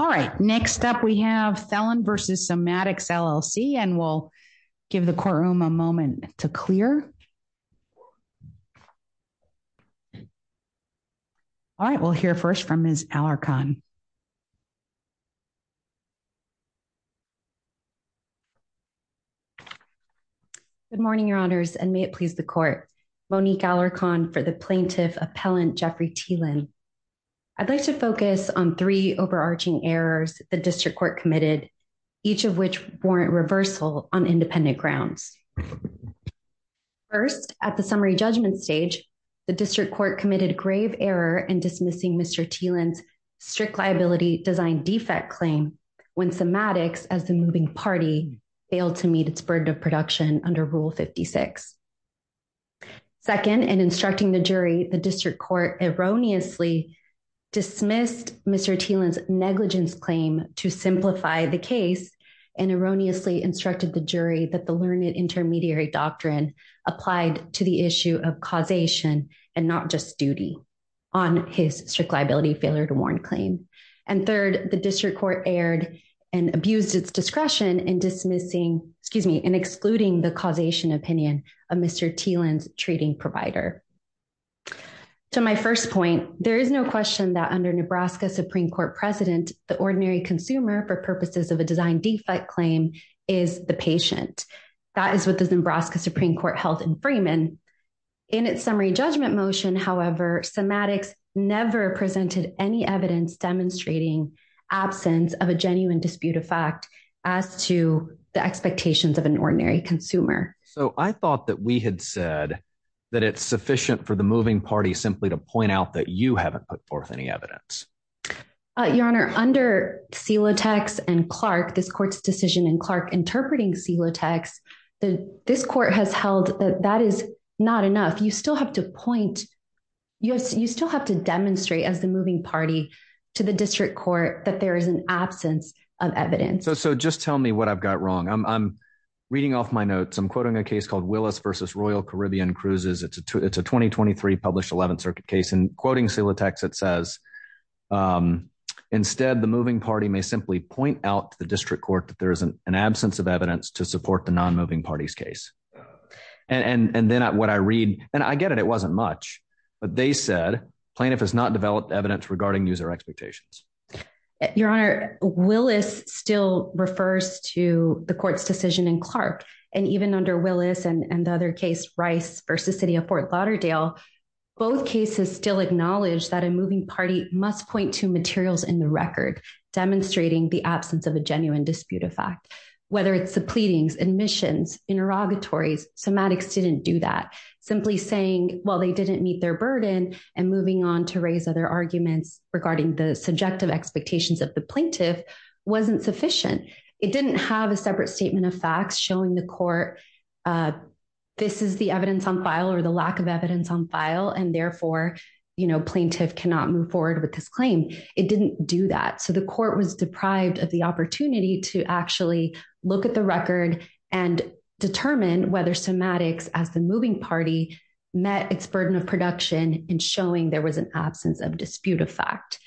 All right, next up we have Thelen v. Somatics, LLC, and we'll give the courtroom a moment to clear. All right, we'll hear first from Ms. Alarcon. Good morning, Your Honors, and may it please the court. Monique Alarcon for the Plaintiff Appellant Jeffrey Thelen. I'd like to focus on three overarching errors the district court committed, each of which warrant reversal on independent grounds. First, at the summary judgment stage, the district court committed grave error in dismissing Mr. Thelen's strict liability design defect claim when Somatics, as the moving party, failed to meet its burden of production under Rule 56. Second, in instructing the jury, the district court erroneously dismissed Mr. Thelen's negligence claim to simplify the case and erroneously instructed the jury that the learned intermediary doctrine applied to the issue of causation and not just duty on his strict liability failure to warrant claim. And third, the district court erred and abused its discretion in excluding the causation opinion of Mr. Thelen's treating provider. To my first point, there is no question that under Nebraska Supreme Court precedent, the ordinary consumer for purposes of a design defect claim is the patient. That is what the Nebraska Supreme Court held in Freeman. In its summary judgment motion, however, Somatics never presented any evidence demonstrating absence of a genuine dispute of fact as to the expectations of an ordinary consumer. So I thought that we had said that it's sufficient for the moving party simply to point out that you haven't put forth any evidence. Your Honor, under Celotex and Clark, this court's decision in Clark interpreting Celotex, this court has held that that is not enough. You still have to point. You still have to demonstrate as the moving party to the district court that there is an absence of evidence. So just tell me what I've got wrong. I'm reading off my notes. I'm quoting a case called Willis versus Royal Caribbean Cruises. It's a it's a 2023 published 11th Circuit case and quoting Celotex. It says instead, the moving party may simply point out to the district court that there is an absence of evidence to support the non moving parties case. And then what I read and I get it, it wasn't much, but they said plaintiff has not developed evidence regarding user expectations. Your Honor, Willis still refers to the court's decision in Clark. And even under Willis and the other case, Rice versus City of Fort Lauderdale, both cases still acknowledge that a moving party must point to materials in the record demonstrating the absence of a genuine dispute of fact. Whether it's the pleadings, admissions, interrogatories, semantics didn't do that. Simply saying, well, they didn't meet their burden and moving on to raise other arguments regarding the subjective expectations of the plaintiff wasn't sufficient. It didn't have a separate statement of facts showing the court. This is the evidence on file or the lack of evidence on file, and therefore, you know, plaintiff cannot move forward with this claim. It didn't do that. So the court was deprived of the opportunity to actually look at the record and determine whether semantics as the moving party met its burden of production in showing there was an absence of dispute of fact.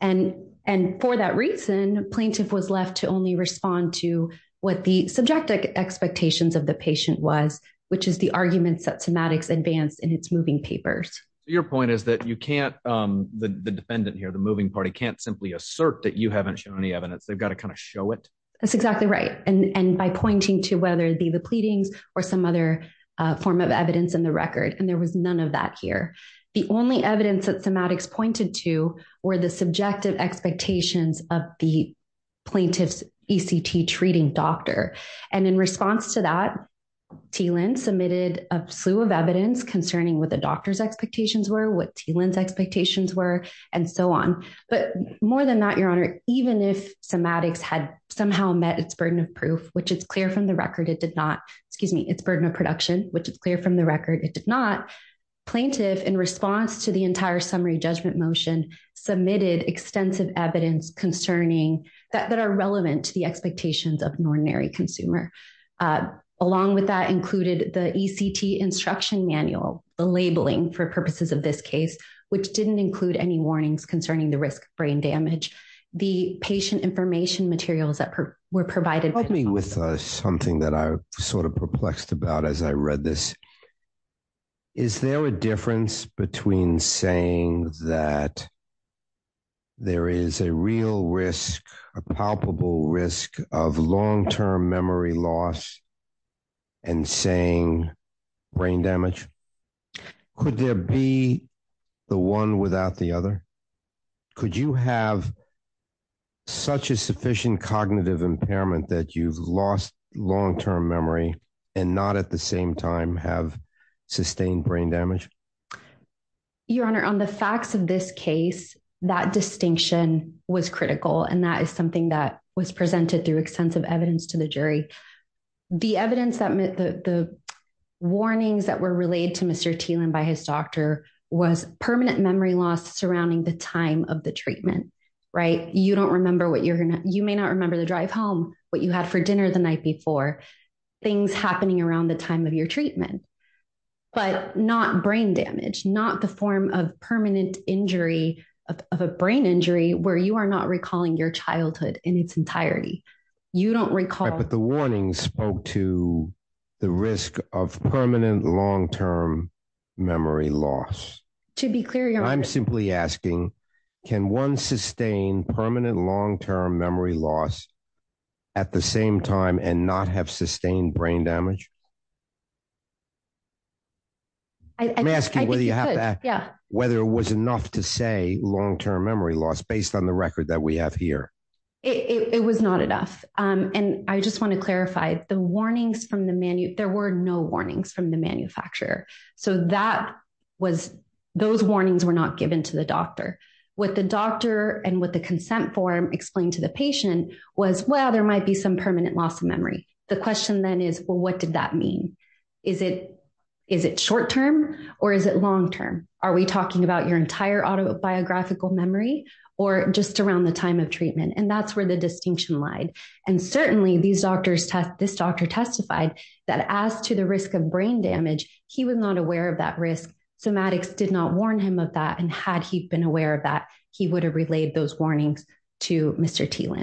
And, and for that reason, plaintiff was left to only respond to what the subjective expectations of the patient was, which is the arguments that semantics advanced in its moving papers. Your point is that you can't the defendant here, the moving party can't simply assert that you haven't shown any evidence. They've got to kind of show it. That's exactly right. And by pointing to whether the the pleadings or some other form of evidence in the record, and there was none of that here. The only evidence that semantics pointed to were the subjective expectations of the plaintiff's ECT treating doctor. And in response to that, T. Lynn submitted a slew of evidence concerning what the doctor's expectations were, what T. Lynn's expectations were, and so on. But more than that, Your Honor, even if semantics had somehow met its burden of proof, which is clear from the record, it did not, excuse me, its burden of production, which is clear from the record, it did not. Plaintiff, in response to the entire summary judgment motion, submitted extensive evidence concerning that that are relevant to the expectations of an ordinary consumer. Along with that included the ECT instruction manual, the labeling for purposes of this case, which didn't include any warnings concerning the risk of brain damage. The patient information materials that were provided. Help me with something that I sort of perplexed about as I read this. Is there a difference between saying that there is a real risk, a palpable risk of long term memory loss and saying brain damage. Could there be the one without the other. Could you have such a sufficient cognitive impairment that you've lost long term memory and not at the same time have sustained brain damage. Your Honor, on the facts of this case, that distinction was critical and that is something that was presented through extensive evidence to the jury. The evidence that the warnings that were relayed to Mr. Teel and by his doctor was permanent memory loss surrounding the time of the treatment. Right. You don't remember what you're going to, you may not remember the drive home, what you had for dinner the night before things happening around the time of your treatment, but not brain damage, not the form of permanent injury of a brain injury where you are not recalling your childhood in its entirety. You don't recall. But the warnings spoke to the risk of permanent long term memory loss. To be clear, I'm simply asking, can one sustain permanent long term memory loss at the same time and not have sustained brain damage. I'm asking whether you have that. Yeah, whether it was enough to say long term memory loss based on the record that we have here. It was not enough. And I just want to clarify the warnings from the menu, there were no warnings from the manufacturer. So that was those warnings were not given to the doctor with the doctor and with the consent form explained to the patient was well there might be some permanent loss of memory. The question then is, well, what did that mean. Is it. Is it short term, or is it long term, are we talking about your entire autobiographical memory, or just around the time of treatment and that's where the distinction lied. And certainly these doctors test this doctor testified that as to the risk of brain damage, he was not aware of that risk somatics did not warn him of that and had he been aware of that he would have relayed those warnings to Mr.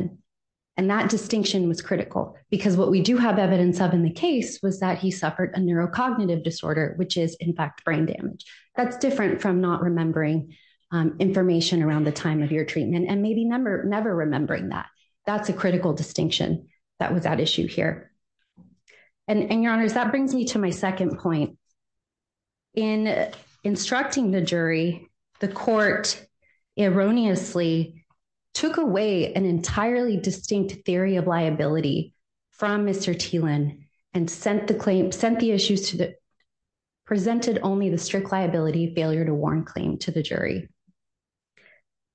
And that distinction was critical, because what we do have evidence of in the case was that he suffered a neurocognitive disorder which is in fact brain damage. That's different from not remembering information around the time of your treatment and maybe number never remembering that. That's a critical distinction. That was that issue here. And your honor's that brings me to my second point in instructing the jury, the court erroneously took away an entirely distinct theory of liability from Mr T Lynn, and sent the claim sent the issues to the presented only the strict liability failure to warn claim to the jury.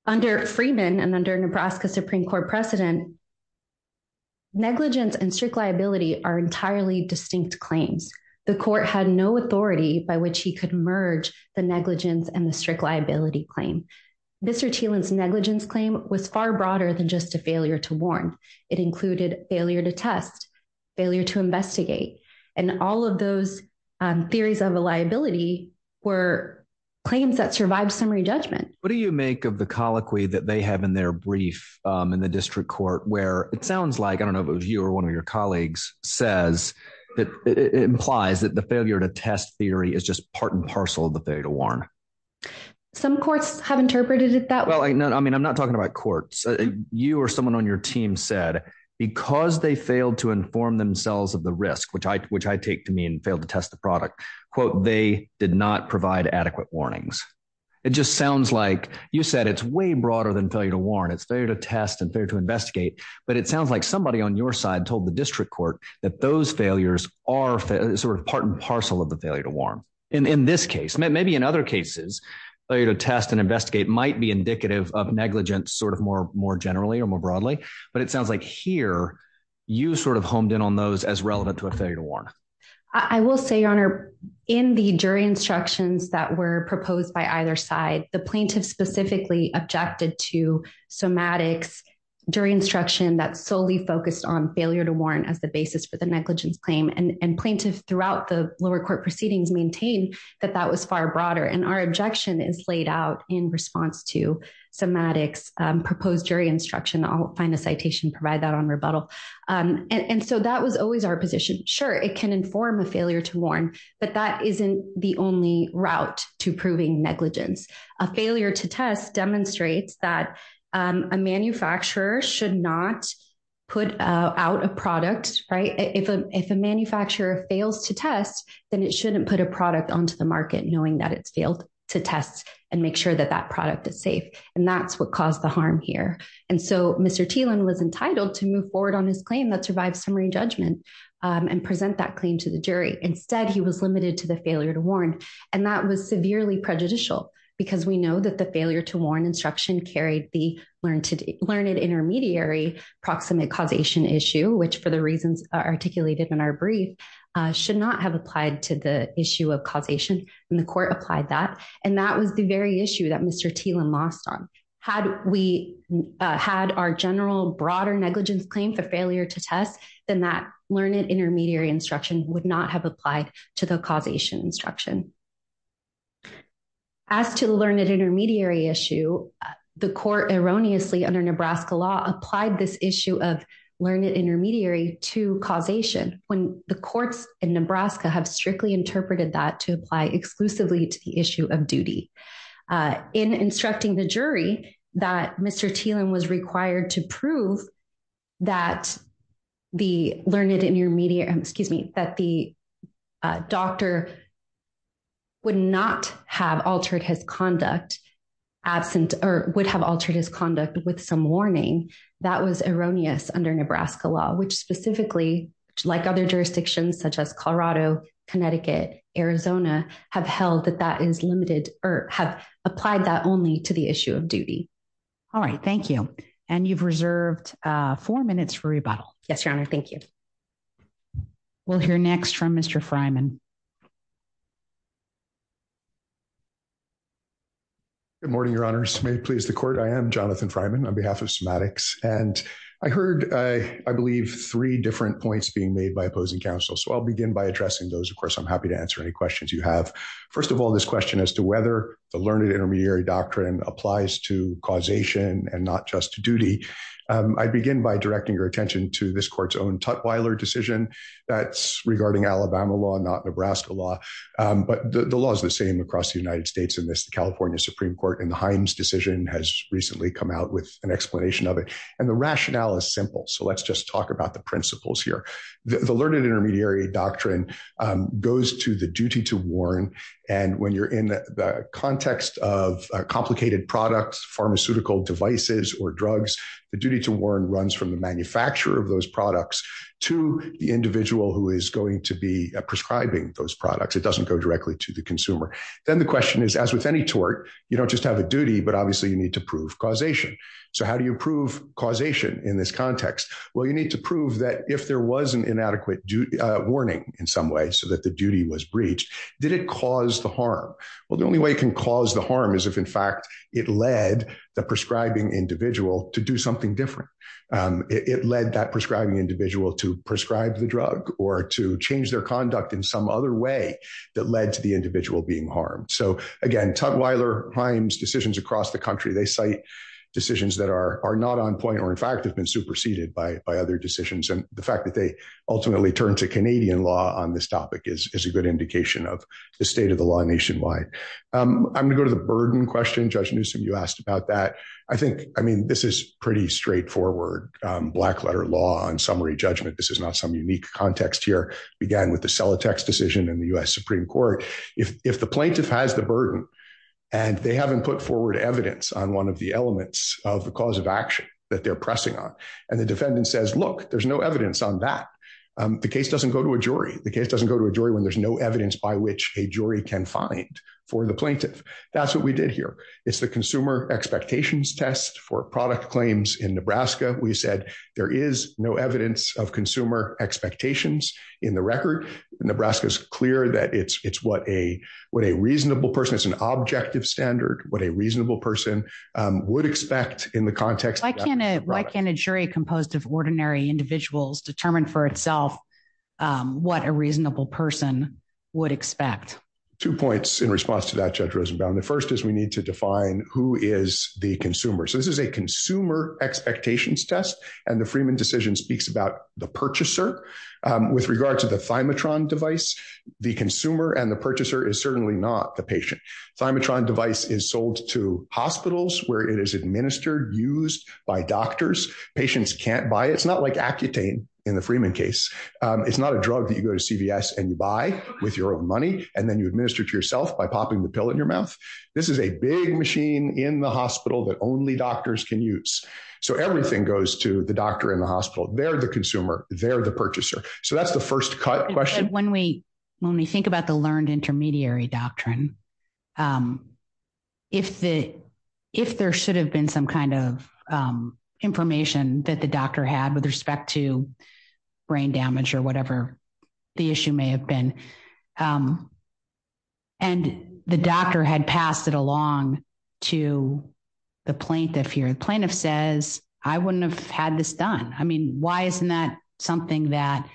Under Freeman and under Nebraska Supreme Court precedent negligence and strict liability are entirely distinct claims, the court had no authority by which he could merge the negligence and the strict liability claim. Mr T Lynn's negligence claim was far broader than just a failure to warn it included failure to test failure to investigate, and all of those theories of liability were claims that survived summary judgment, what do you make of the colloquy that they have in their brief in the district court where it sounds like I don't know if you or one of your colleagues says that it implies that the failure to test theory is just part and parcel of the failure to warn. Some courts have interpreted it that well I know I mean I'm not talking about courts, you or someone on your team said, because they failed to inform themselves of the risk which I which I take to mean failed to test the product, quote, they did not provide adequate warnings. It just sounds like you said it's way broader than failure to warn it's fair to test and fair to investigate, but it sounds like somebody on your side told the district court that those failures are sort of part and parcel of the failure to warn. In this case, maybe in other cases, failure to test and investigate might be indicative of negligence sort of more more generally or more broadly, but it sounds like here, you sort of honed in on those as relevant to a failure to warn. I will say honor in the jury instructions that were proposed by either side, the plaintiff specifically objected to somatics during instruction that solely focused on failure to warrant as the basis for the negligence claim and plaintiff throughout the lower court proceedings maintain that that was far broader and our objection is laid out in response to somatics proposed jury instruction I'll find a citation provide that on rebuttal. And so that was always our position, sure, it can inform a failure to warn, but that isn't the only route to proving negligence of failure to test demonstrates that a manufacturer should not put out a product, right, if a, if a manufacturer is entitled to move forward on his claim that survive summary judgment and present that claim to the jury instead he was limited to the failure to warn, and that was severely prejudicial, because we know that the failure to warn instruction carried the learned to learn a broader negligence claim for failure to test, then that learned intermediary instruction would not have applied to the causation instruction. As to the learned intermediary issue. The court erroneously under Nebraska law applied this issue of learned intermediary to causation, when the courts in Nebraska have strictly interpreted that to apply exclusively to the issue of duty. In instructing the jury that Mr. Teal and was required to prove that the learned intermediary excuse me that the doctor would not have altered his conduct absent or would have altered his conduct with some warning that was erroneous under Nebraska law which specifically, like other jurisdictions such as Colorado, Connecticut, Arizona, have held that that is limited, or have applied that only to the issue of duty. All right, thank you. And you've reserved four minutes for rebuttal. Yes, your honor. Thank you. We'll hear next from Mr Freiman. Good morning, your honors may please the court I am Jonathan Freiman on behalf of semantics, and I heard, I believe, three different points being made by opposing counsel so I'll begin by addressing those of course I'm happy to answer any questions you have. First of all, this question as to whether the learned intermediary doctrine applies to causation and not just duty. I begin by directing your attention to this court's own tutwiler decision that's regarding Alabama law not Nebraska law, but the law is the same across the United States in this California Supreme Court and the Hines decision has recently come out with an explanation of it, and the rationale is simple so let's just talk about the principles here. The learned intermediary doctrine goes to the duty to warn, and when you're in the context of complicated products pharmaceutical devices or drugs, the duty to warn runs from the manufacturer of those products to the individual who is going to be prescribing those products it doesn't go directly to the consumer. Then the question is, as with any tort, you don't just have a duty but obviously you need to prove causation. So how do you prove causation in this context, well you need to prove that if there was an inadequate warning in some way so that the duty was breached. Did it cause the harm. Well, the only way can cause the harm is if in fact, it led the prescribing individual to do something different. It led that prescribing individual to prescribe the drug, or to change their conduct in some other way that led to the individual being harmed so again tutwiler Hines decisions across the country they cite decisions that are not on point or in fact have been superseded by other decisions and the fact that they ultimately turn to Canadian law on this topic is a good indication of the state of the law nationwide. I'm going to go to the burden question judge Newsome you asked about that. I think, I mean this is pretty straightforward black letter law and summary judgment this is not some unique context here began with the sell a text decision in the US Supreme Court, if the plaintiff has the burden, and they haven't put forward evidence on one of the elements of the cause of action that they're pressing on, and the defendant says look, there's no evidence on that. The case doesn't go to a jury, the case doesn't go to a jury when there's no evidence by which a jury can find for the plaintiff. That's what we did here. It's the consumer expectations test for product claims in Nebraska, we said there is no evidence of consumer expectations in the record, Nebraska is clear that it's it's what a what a reasonable person it's an objective standard, what a reasonable person would expect in the context I can, why can't a jury composed of ordinary individuals determined for itself. What a reasonable person would expect two points in response to that judge Rosenbaum the first is we need to define who is the consumer so this is a consumer expectations test, and the Freeman decision speaks about the purchaser. With regard to the phymatron device, the consumer and the purchaser is certainly not the patient phymatron device is sold to hospitals where it is administered used by doctors, patients can't buy it's not like accutane in the Freeman case. It's not a drug that you go to CVS and you buy with your own money, and then you administer to yourself by popping the pill in your mouth. This is a big machine in the hospital that only doctors can use. So everything goes to the doctor in the hospital, they're the consumer, they're the purchaser. So that's the first cut question when we when we think about the learned intermediary doctrine. If the, if there should have been some kind of information that the doctor had with respect to brain damage or whatever the issue may have been. And the doctor had passed it along to the plaintiff here plaintiff says, I wouldn't have had this done. I mean, why isn't that something that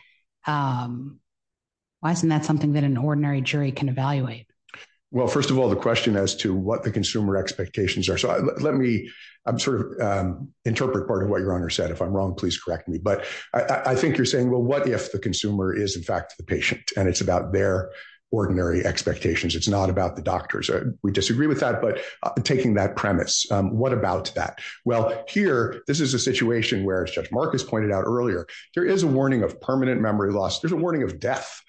wasn't that something that an ordinary jury can evaluate. Well, first of all, the question as to what the consumer expectations are so let me sort of interpret part of what your honor said if I'm wrong please correct me but I think you're saying well what if the consumer is in fact the patient, and it's about their ordinary expectations it's not about the doctors we disagree with that but taking that premise. What about that. Well, here, this is a situation where it's just Marcus pointed out earlier, there is a warning of permanent memory loss there's a warning of death.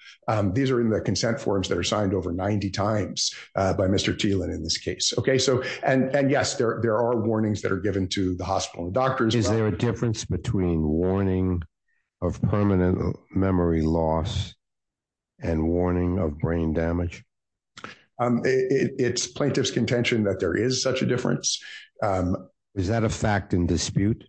These are in the consent forms that are signed over 90 times by Mr. Teel and in this case. Okay, so, and yes there are warnings that are given to the hospital doctors is there a difference between warning of permanent memory loss and warning of brain damage. It's plaintiff's contention that there is such a difference. Is that a fact in dispute.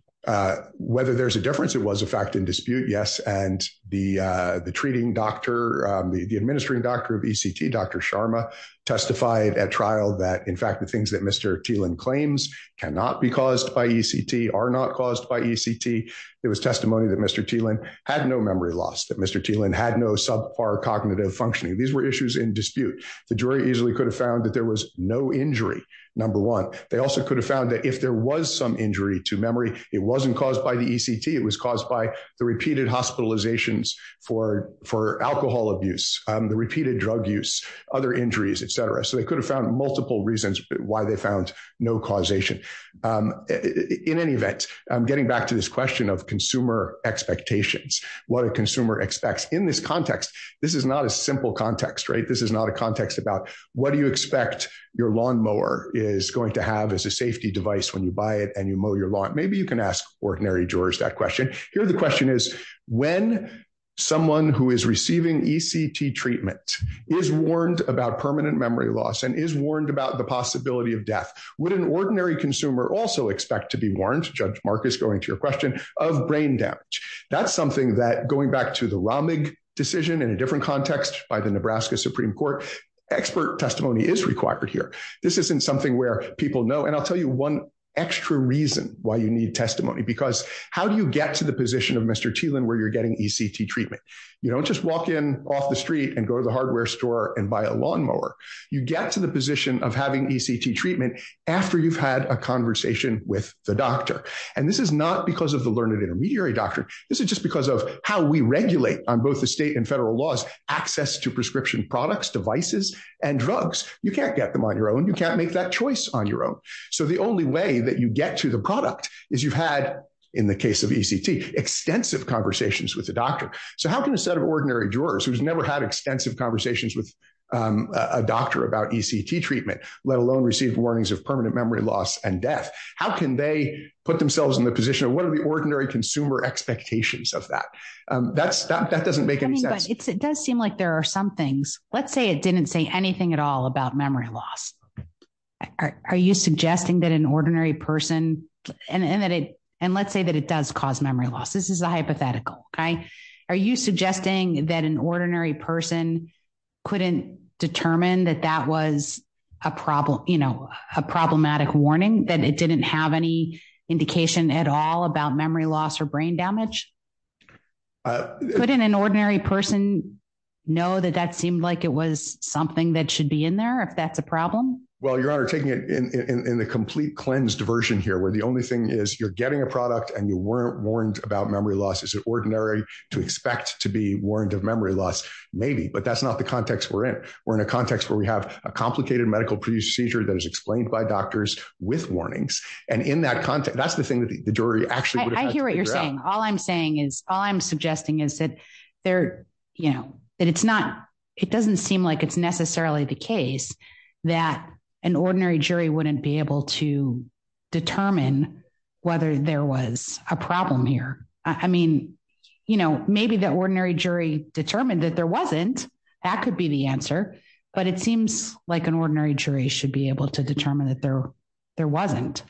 Whether there's a difference it was a fact in dispute yes and the, the treating doctor, the administering doctor of ECT Dr Sharma testified at trial that in fact the things that Mr Teel and claims cannot be caused by ECT are not caused by ECT. It was testimony that Mr Teel and had no memory loss that Mr Teel and had no subpar cognitive functioning these were issues in dispute, the jury easily could have found that there was no injury. Number one, they also could have found that if there was some injury to memory, it wasn't caused by the ECT it was caused by the repeated hospitalizations for for alcohol abuse, the repeated drug use other injuries etc so they could have found multiple reasons why they found no causation. In any event, I'm getting back to this question of consumer expectations, what a consumer expects in this context. This is not a simple context right this is not a context about what do you expect your lawnmower is going to have as a safety device when you buy it and you mow your lawn maybe you can ask ordinary jurors that question here the question is, when someone who is receiving ECT treatment is warned about permanent memory loss and is warned about the possibility of death would an ordinary consumer also expect to be warned judge Marcus going to your question of brain damage. That's something that going back to the Romney decision in a different context by the Nebraska Supreme Court expert testimony is required here. This isn't something where people know and I'll tell you one extra reason why you need testimony because how do you get to the position of Mr Teel and where you're getting ECT treatment. You don't just walk in off the street and go to the hardware store and buy a lawnmower, you get to the position of having ECT treatment. After you've had a conversation with the doctor, and this is not because of the learned intermediary doctor. This is just because of how we regulate on both the state and federal laws, access to prescription products devices and drugs, you can't get them on your own, you can't make that choice on your own. So the only way that you get to the product is you've had in the case of ECT extensive conversations with the doctor. So how can a set of ordinary jurors who's never had extensive conversations with a doctor about ECT treatment, let alone received warnings of permanent memory loss and death. How can they put themselves in the position of what are the ordinary consumer expectations of that. That's that that doesn't make any sense. It does seem like there are some things, let's say it didn't say anything at all about memory loss. Are you suggesting that an ordinary person, and that it, and let's say that it does cause memory loss this is a hypothetical guy. Are you suggesting that an ordinary person couldn't determine that that was a problem, you know, a problematic warning that it didn't have any indication at all about memory loss or brain damage. But in an ordinary person know that that seemed like it was something that should be in there if that's a problem. Well your honor taking it in the complete cleanse diversion here where the only thing is you're getting a product and you weren't warned about memory loss is ordinary to expect to be warned of memory loss, maybe but that's not the context we're in, we're in a context where we have a complicated medical procedure that is explained by doctors with warnings. And in that context, that's the thing that the jury actually hear what you're saying, all I'm saying is, all I'm suggesting is that they're, you know, that it's not, it doesn't seem like it's necessarily the case that an ordinary jury wouldn't be able to determine whether there was a problem here. I mean, you know, maybe the ordinary jury determined that there wasn't. That could be the answer, but it seems like an ordinary jury should be able to determine that there. There wasn't.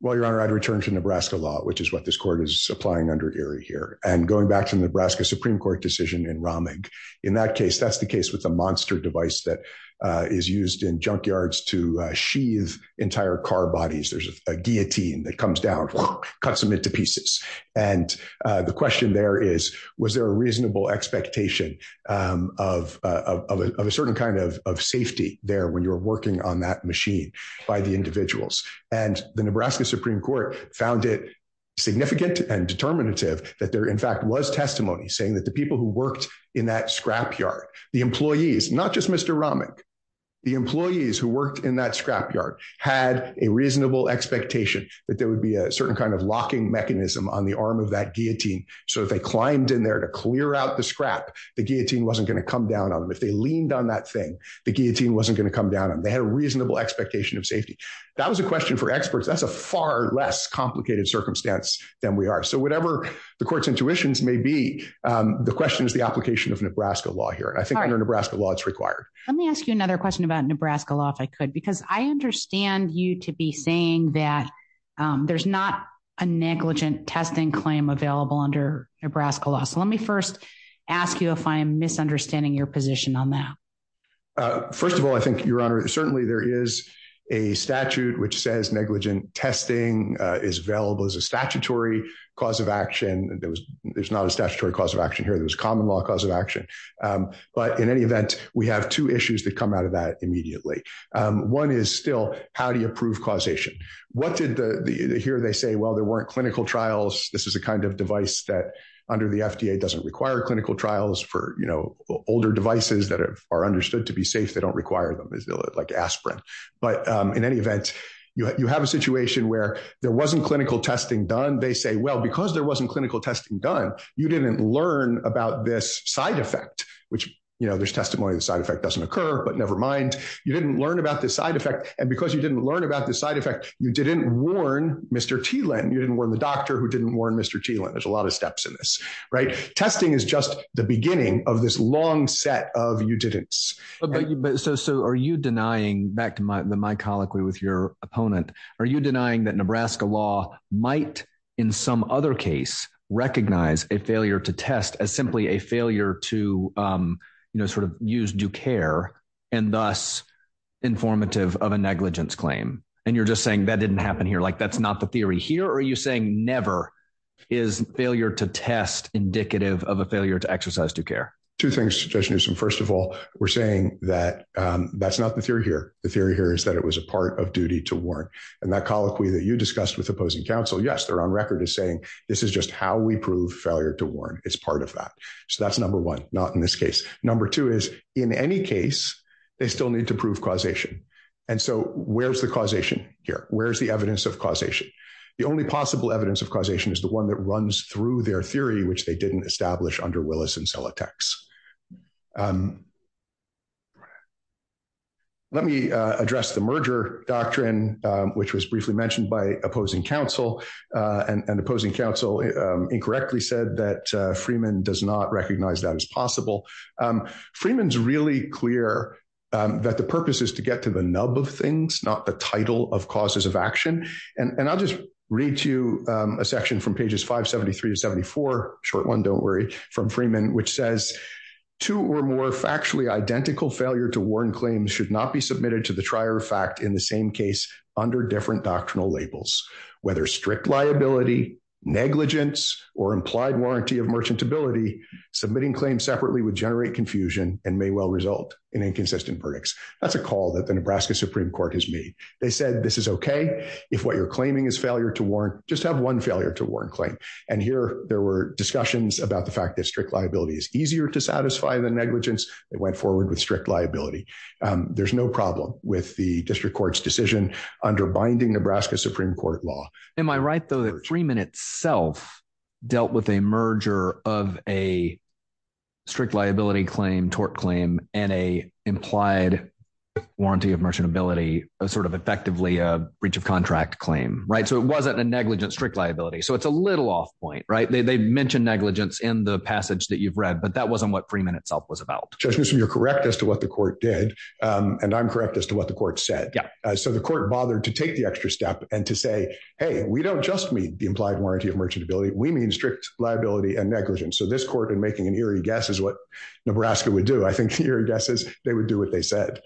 Well, your honor I'd return to Nebraska law which is what this court is supplying under area here and going back to Nebraska Supreme Court decision in Romney. In that case, that's the case with a monster device that is used in junkyards to sheath entire car bodies there's a guillotine that comes down cuts them into pieces. And the question there is, was there a reasonable expectation of a certain kind of safety there when you're working on that machine by the individuals, and the Nebraska Supreme Court found it significant and determinative that there in fact was testimony saying that the people who worked in that scrapyard, the employees, not just Mr Romney, the employees who worked in that scrapyard had a reasonable expectation that there would be a certain kind of locking mechanism on the arm of that guillotine. So if they climbed in there to clear out the scrap, the guillotine wasn't going to come down on them if they leaned on that thing, the guillotine wasn't going to come down and they had a reasonable expectation of safety. That was a question for experts that's a far less complicated circumstance than we are so whatever the court's intuitions may be. The question is the application of Nebraska law here I think Nebraska law it's required. Let me ask you another question about Nebraska law if I could because I understand you to be saying that there's not a negligent testing claim available under Nebraska law so let me first ask you if I'm misunderstanding your position on that. First of all, I think your honor, certainly there is a statute which says negligent testing is available as a statutory cause of action, and there was, there's not a statutory cause of action here there's common law cause of action. But in any event, we have two issues that come out of that immediately. One is still, how do you approve causation. What did the here they say well there weren't clinical trials, this is the kind of device that under the FDA doesn't require clinical trials for you know, older devices that are understood to be safe they don't require them is like aspirin. But in any event, you have a situation where there wasn't clinical testing done they say well because there wasn't clinical testing done, you didn't learn about this side effect, which, you know, there's testimony the side effect doesn't occur but nevermind. You didn't learn about this side effect, and because you didn't learn about the side effect, you didn't warn Mr T Lynn you didn't want the doctor who didn't warn Mr G when there's a lot of steps in this right testing is just the beginning of this long set of you didn't. So are you denying back to my my colloquy with your opponent. Are you denying that Nebraska law might, in some other case, recognize a failure to test as simply a failure to, you know, sort of use do care, and thus informative of a negligence claim, and you're just saying that didn't happen here like that's not the theory here or are you saying never is failure to test indicative of a failure to exercise to care, two things to do some first of all, we're saying that that's not the theory here. The theory here is that it was a part of duty to work, and that colloquy that you discussed with opposing counsel yes they're on record as saying, this is just how we prove failure to warn, it's part of that. So that's number one, not in this case. Number two is, in any case, they still need to prove causation. And so, where's the causation here, where's the evidence of causation. The only possible evidence of causation is the one that runs through their theory which they didn't establish under Willis and sell a tax. Let me address the merger doctrine, which was briefly mentioned by opposing counsel and opposing counsel incorrectly said that Freeman does not recognize that as possible. Freeman's really clear that the purpose is to get to the nub of things not the title of causes of action, and I'll just read to you a section from pages 573 to 74 short one don't worry from Freeman, which says to or more factually identical failure to warn flexibility, submitting claims separately would generate confusion and may well result in inconsistent verdicts. That's a call that the Nebraska Supreme Court has made, they said this is okay. If what you're claiming is failure to warrant just have one failure to warrant claim. And here, there were discussions about the fact that strict liability is easier to satisfy the negligence that went forward with strict liability. There's no problem with the district court's decision under binding Nebraska Supreme Court law. Am I right though that three minutes self dealt with a merger of a strict liability claim tort claim, and a implied warranty of merchantability, sort of effectively a breach of contract claim right so it wasn't a negligent strict liability so it's a little off point right they mentioned negligence in the passage that you've read but that wasn't what Freeman itself was about. Correct as to what the court did. And I'm correct as to what the court said. So the court bothered to take the extra step and to say, hey, we don't just meet the implied warranty of merchantability we mean strict liability and negligence so this court and making an eerie guess is what Nebraska would do I think your guesses, they would do what they said.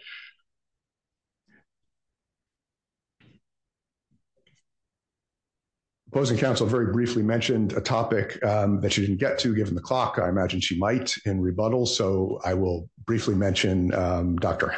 Opposing Council very briefly mentioned a topic that you didn't get to given the clock I imagine she might in rebuttal so I will briefly mentioned, Dr.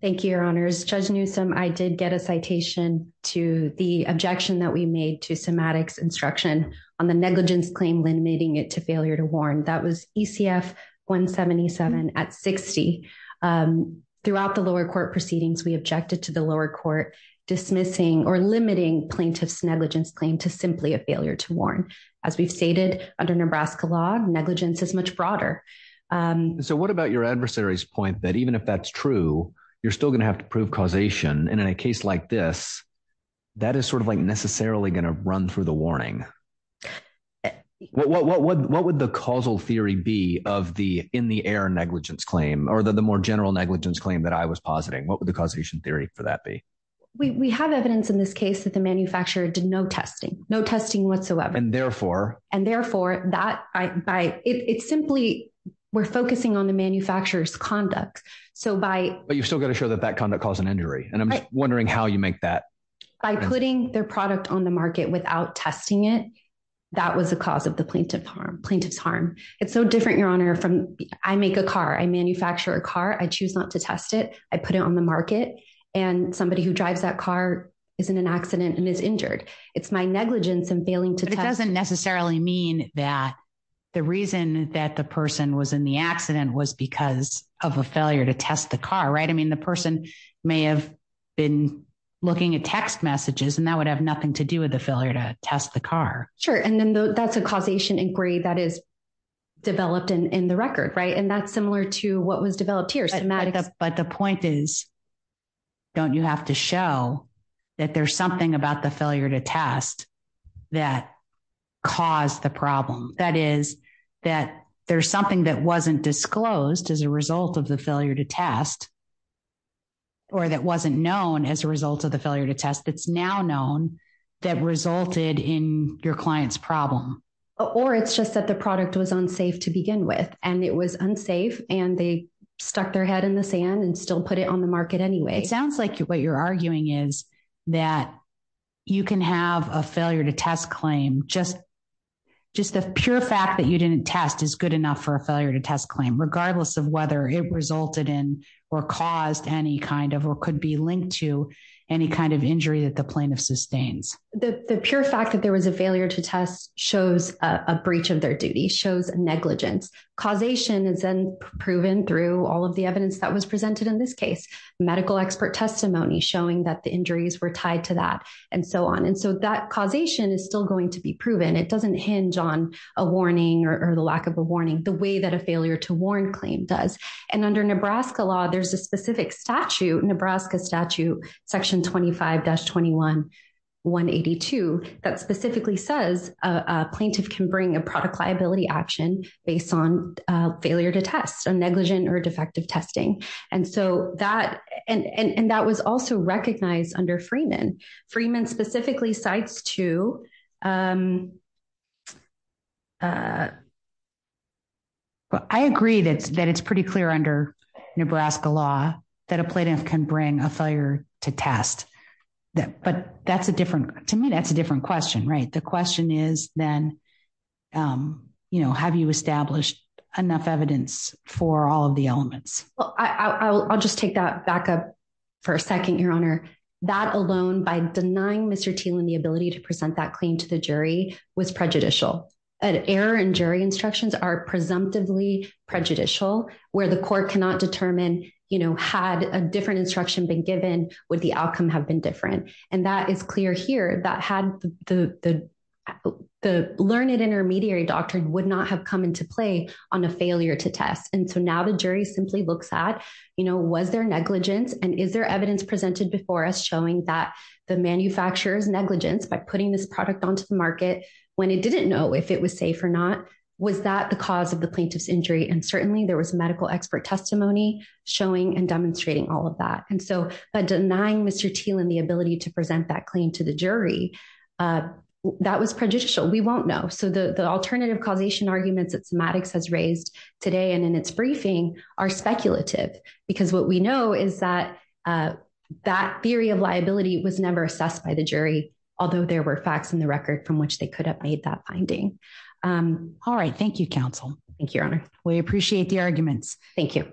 Thank you, Your Honors judge Newsome I did get a citation to the objection that we made to semantics instruction on the negligence claim limiting it to failure to warn that was ECF 177 at 60. Throughout the lower court proceedings we objected to the lower court dismissing or limiting plaintiffs negligence claim to simply a failure to warn, as we've stated, under Nebraska law negligence is much broader. So what about your adversaries point that even if that's true, you're still going to have to prove causation and in a case like this. That is sort of like necessarily going to run through the warning. What would the causal theory be of the in the air negligence claim or the more general negligence claim that I was positing what would the causation theory for that be. We have evidence in this case that the manufacturer did no testing, no testing whatsoever and therefore, and therefore, that I buy it simply. We're focusing on the manufacturers conduct. So by, but you've still got to show that that kind of cause an injury and I'm wondering how you make that by putting their product on the market without testing it. That was the cause of the plaintiff harm plaintiff's harm. It's so different your honor from, I make a car I manufacture a car I choose not to test it, I put it on the market, and somebody who drives that car is in an accident and is injured. It's my negligence and failing to doesn't necessarily mean that the reason that the person was in the accident was because of a failure to test the car. Right? I mean, the person may have been looking at text messages and that would have nothing to do with the failure to test the car. Sure. And then that's a causation inquiry that is developed in the record. Right? And that's similar to what was developed here. But the point is, don't you have to show that there's something about the failure to test that caused the problem that is that there's something that wasn't disclosed as a result of the failure to test or that wasn't known as a result of the failure to test that's now known that resulted in your clients problem. Or it's just that the product was unsafe to begin with, and it was unsafe, and they stuck their head in the sand and still put it on the market anyway. It sounds like what you're arguing is that you can have a failure to test claim just just the pure fact that you didn't test is good enough for a failure to test claim regardless of whether it resulted in or caused any kind of or could be linked to any kind of injury that the plaintiff sustains. The pure fact that there was a failure to test shows a breach of their duty shows negligence causation is then proven through all of the evidence that was presented in this case, medical expert testimony showing that the injuries were tied to that, and so on and so that causation is still going to be proven it doesn't hinge on a warning or the lack of a warning the way that a failure to warn claim does. And under Nebraska law there's a specific statute Nebraska statute section 25 dash 21 182 that specifically says plaintiff can bring a product liability action based on failure to test a negligent or defective testing, and so that, and that was also recognized under Freeman Freeman specifically sites to. I agree that that it's pretty clear under Nebraska law that a plaintiff can bring a failure to test that but that's a different to me that's a different question right The question is, then, you know, have you established enough evidence for all of the elements. Well, I'll just take that back up for a second, Your Honor, that alone by denying Mr Teal and the ability to present that claim to the jury was prejudicial error and jury instructions are presumptively prejudicial, where the court cannot determine, you know, had a different instruction been given with the outcome have been different. And that is clear here that had the, the, the learned intermediary doctrine would not have come into play on a failure to test and so now the jury simply looks at, you know, was there negligence and is there evidence presented before us showing that the manufacturers negligence by putting this product onto the market, when it didn't know if it was safe or not, was that the cause of the plaintiff's injury and certainly there was medical expert testimony, showing and demonstrating all of that and so by denying Mr Teal and the ability to present that claim to the jury. That was prejudicial we won't know so the the alternative causation arguments that semantics has raised today and in its briefing are speculative, because what we know is that that theory of liability was never assessed by the jury, although there were facts in the record from which they could have made that finding. All right, thank you counsel. Thank you. We appreciate the arguments. Thank you.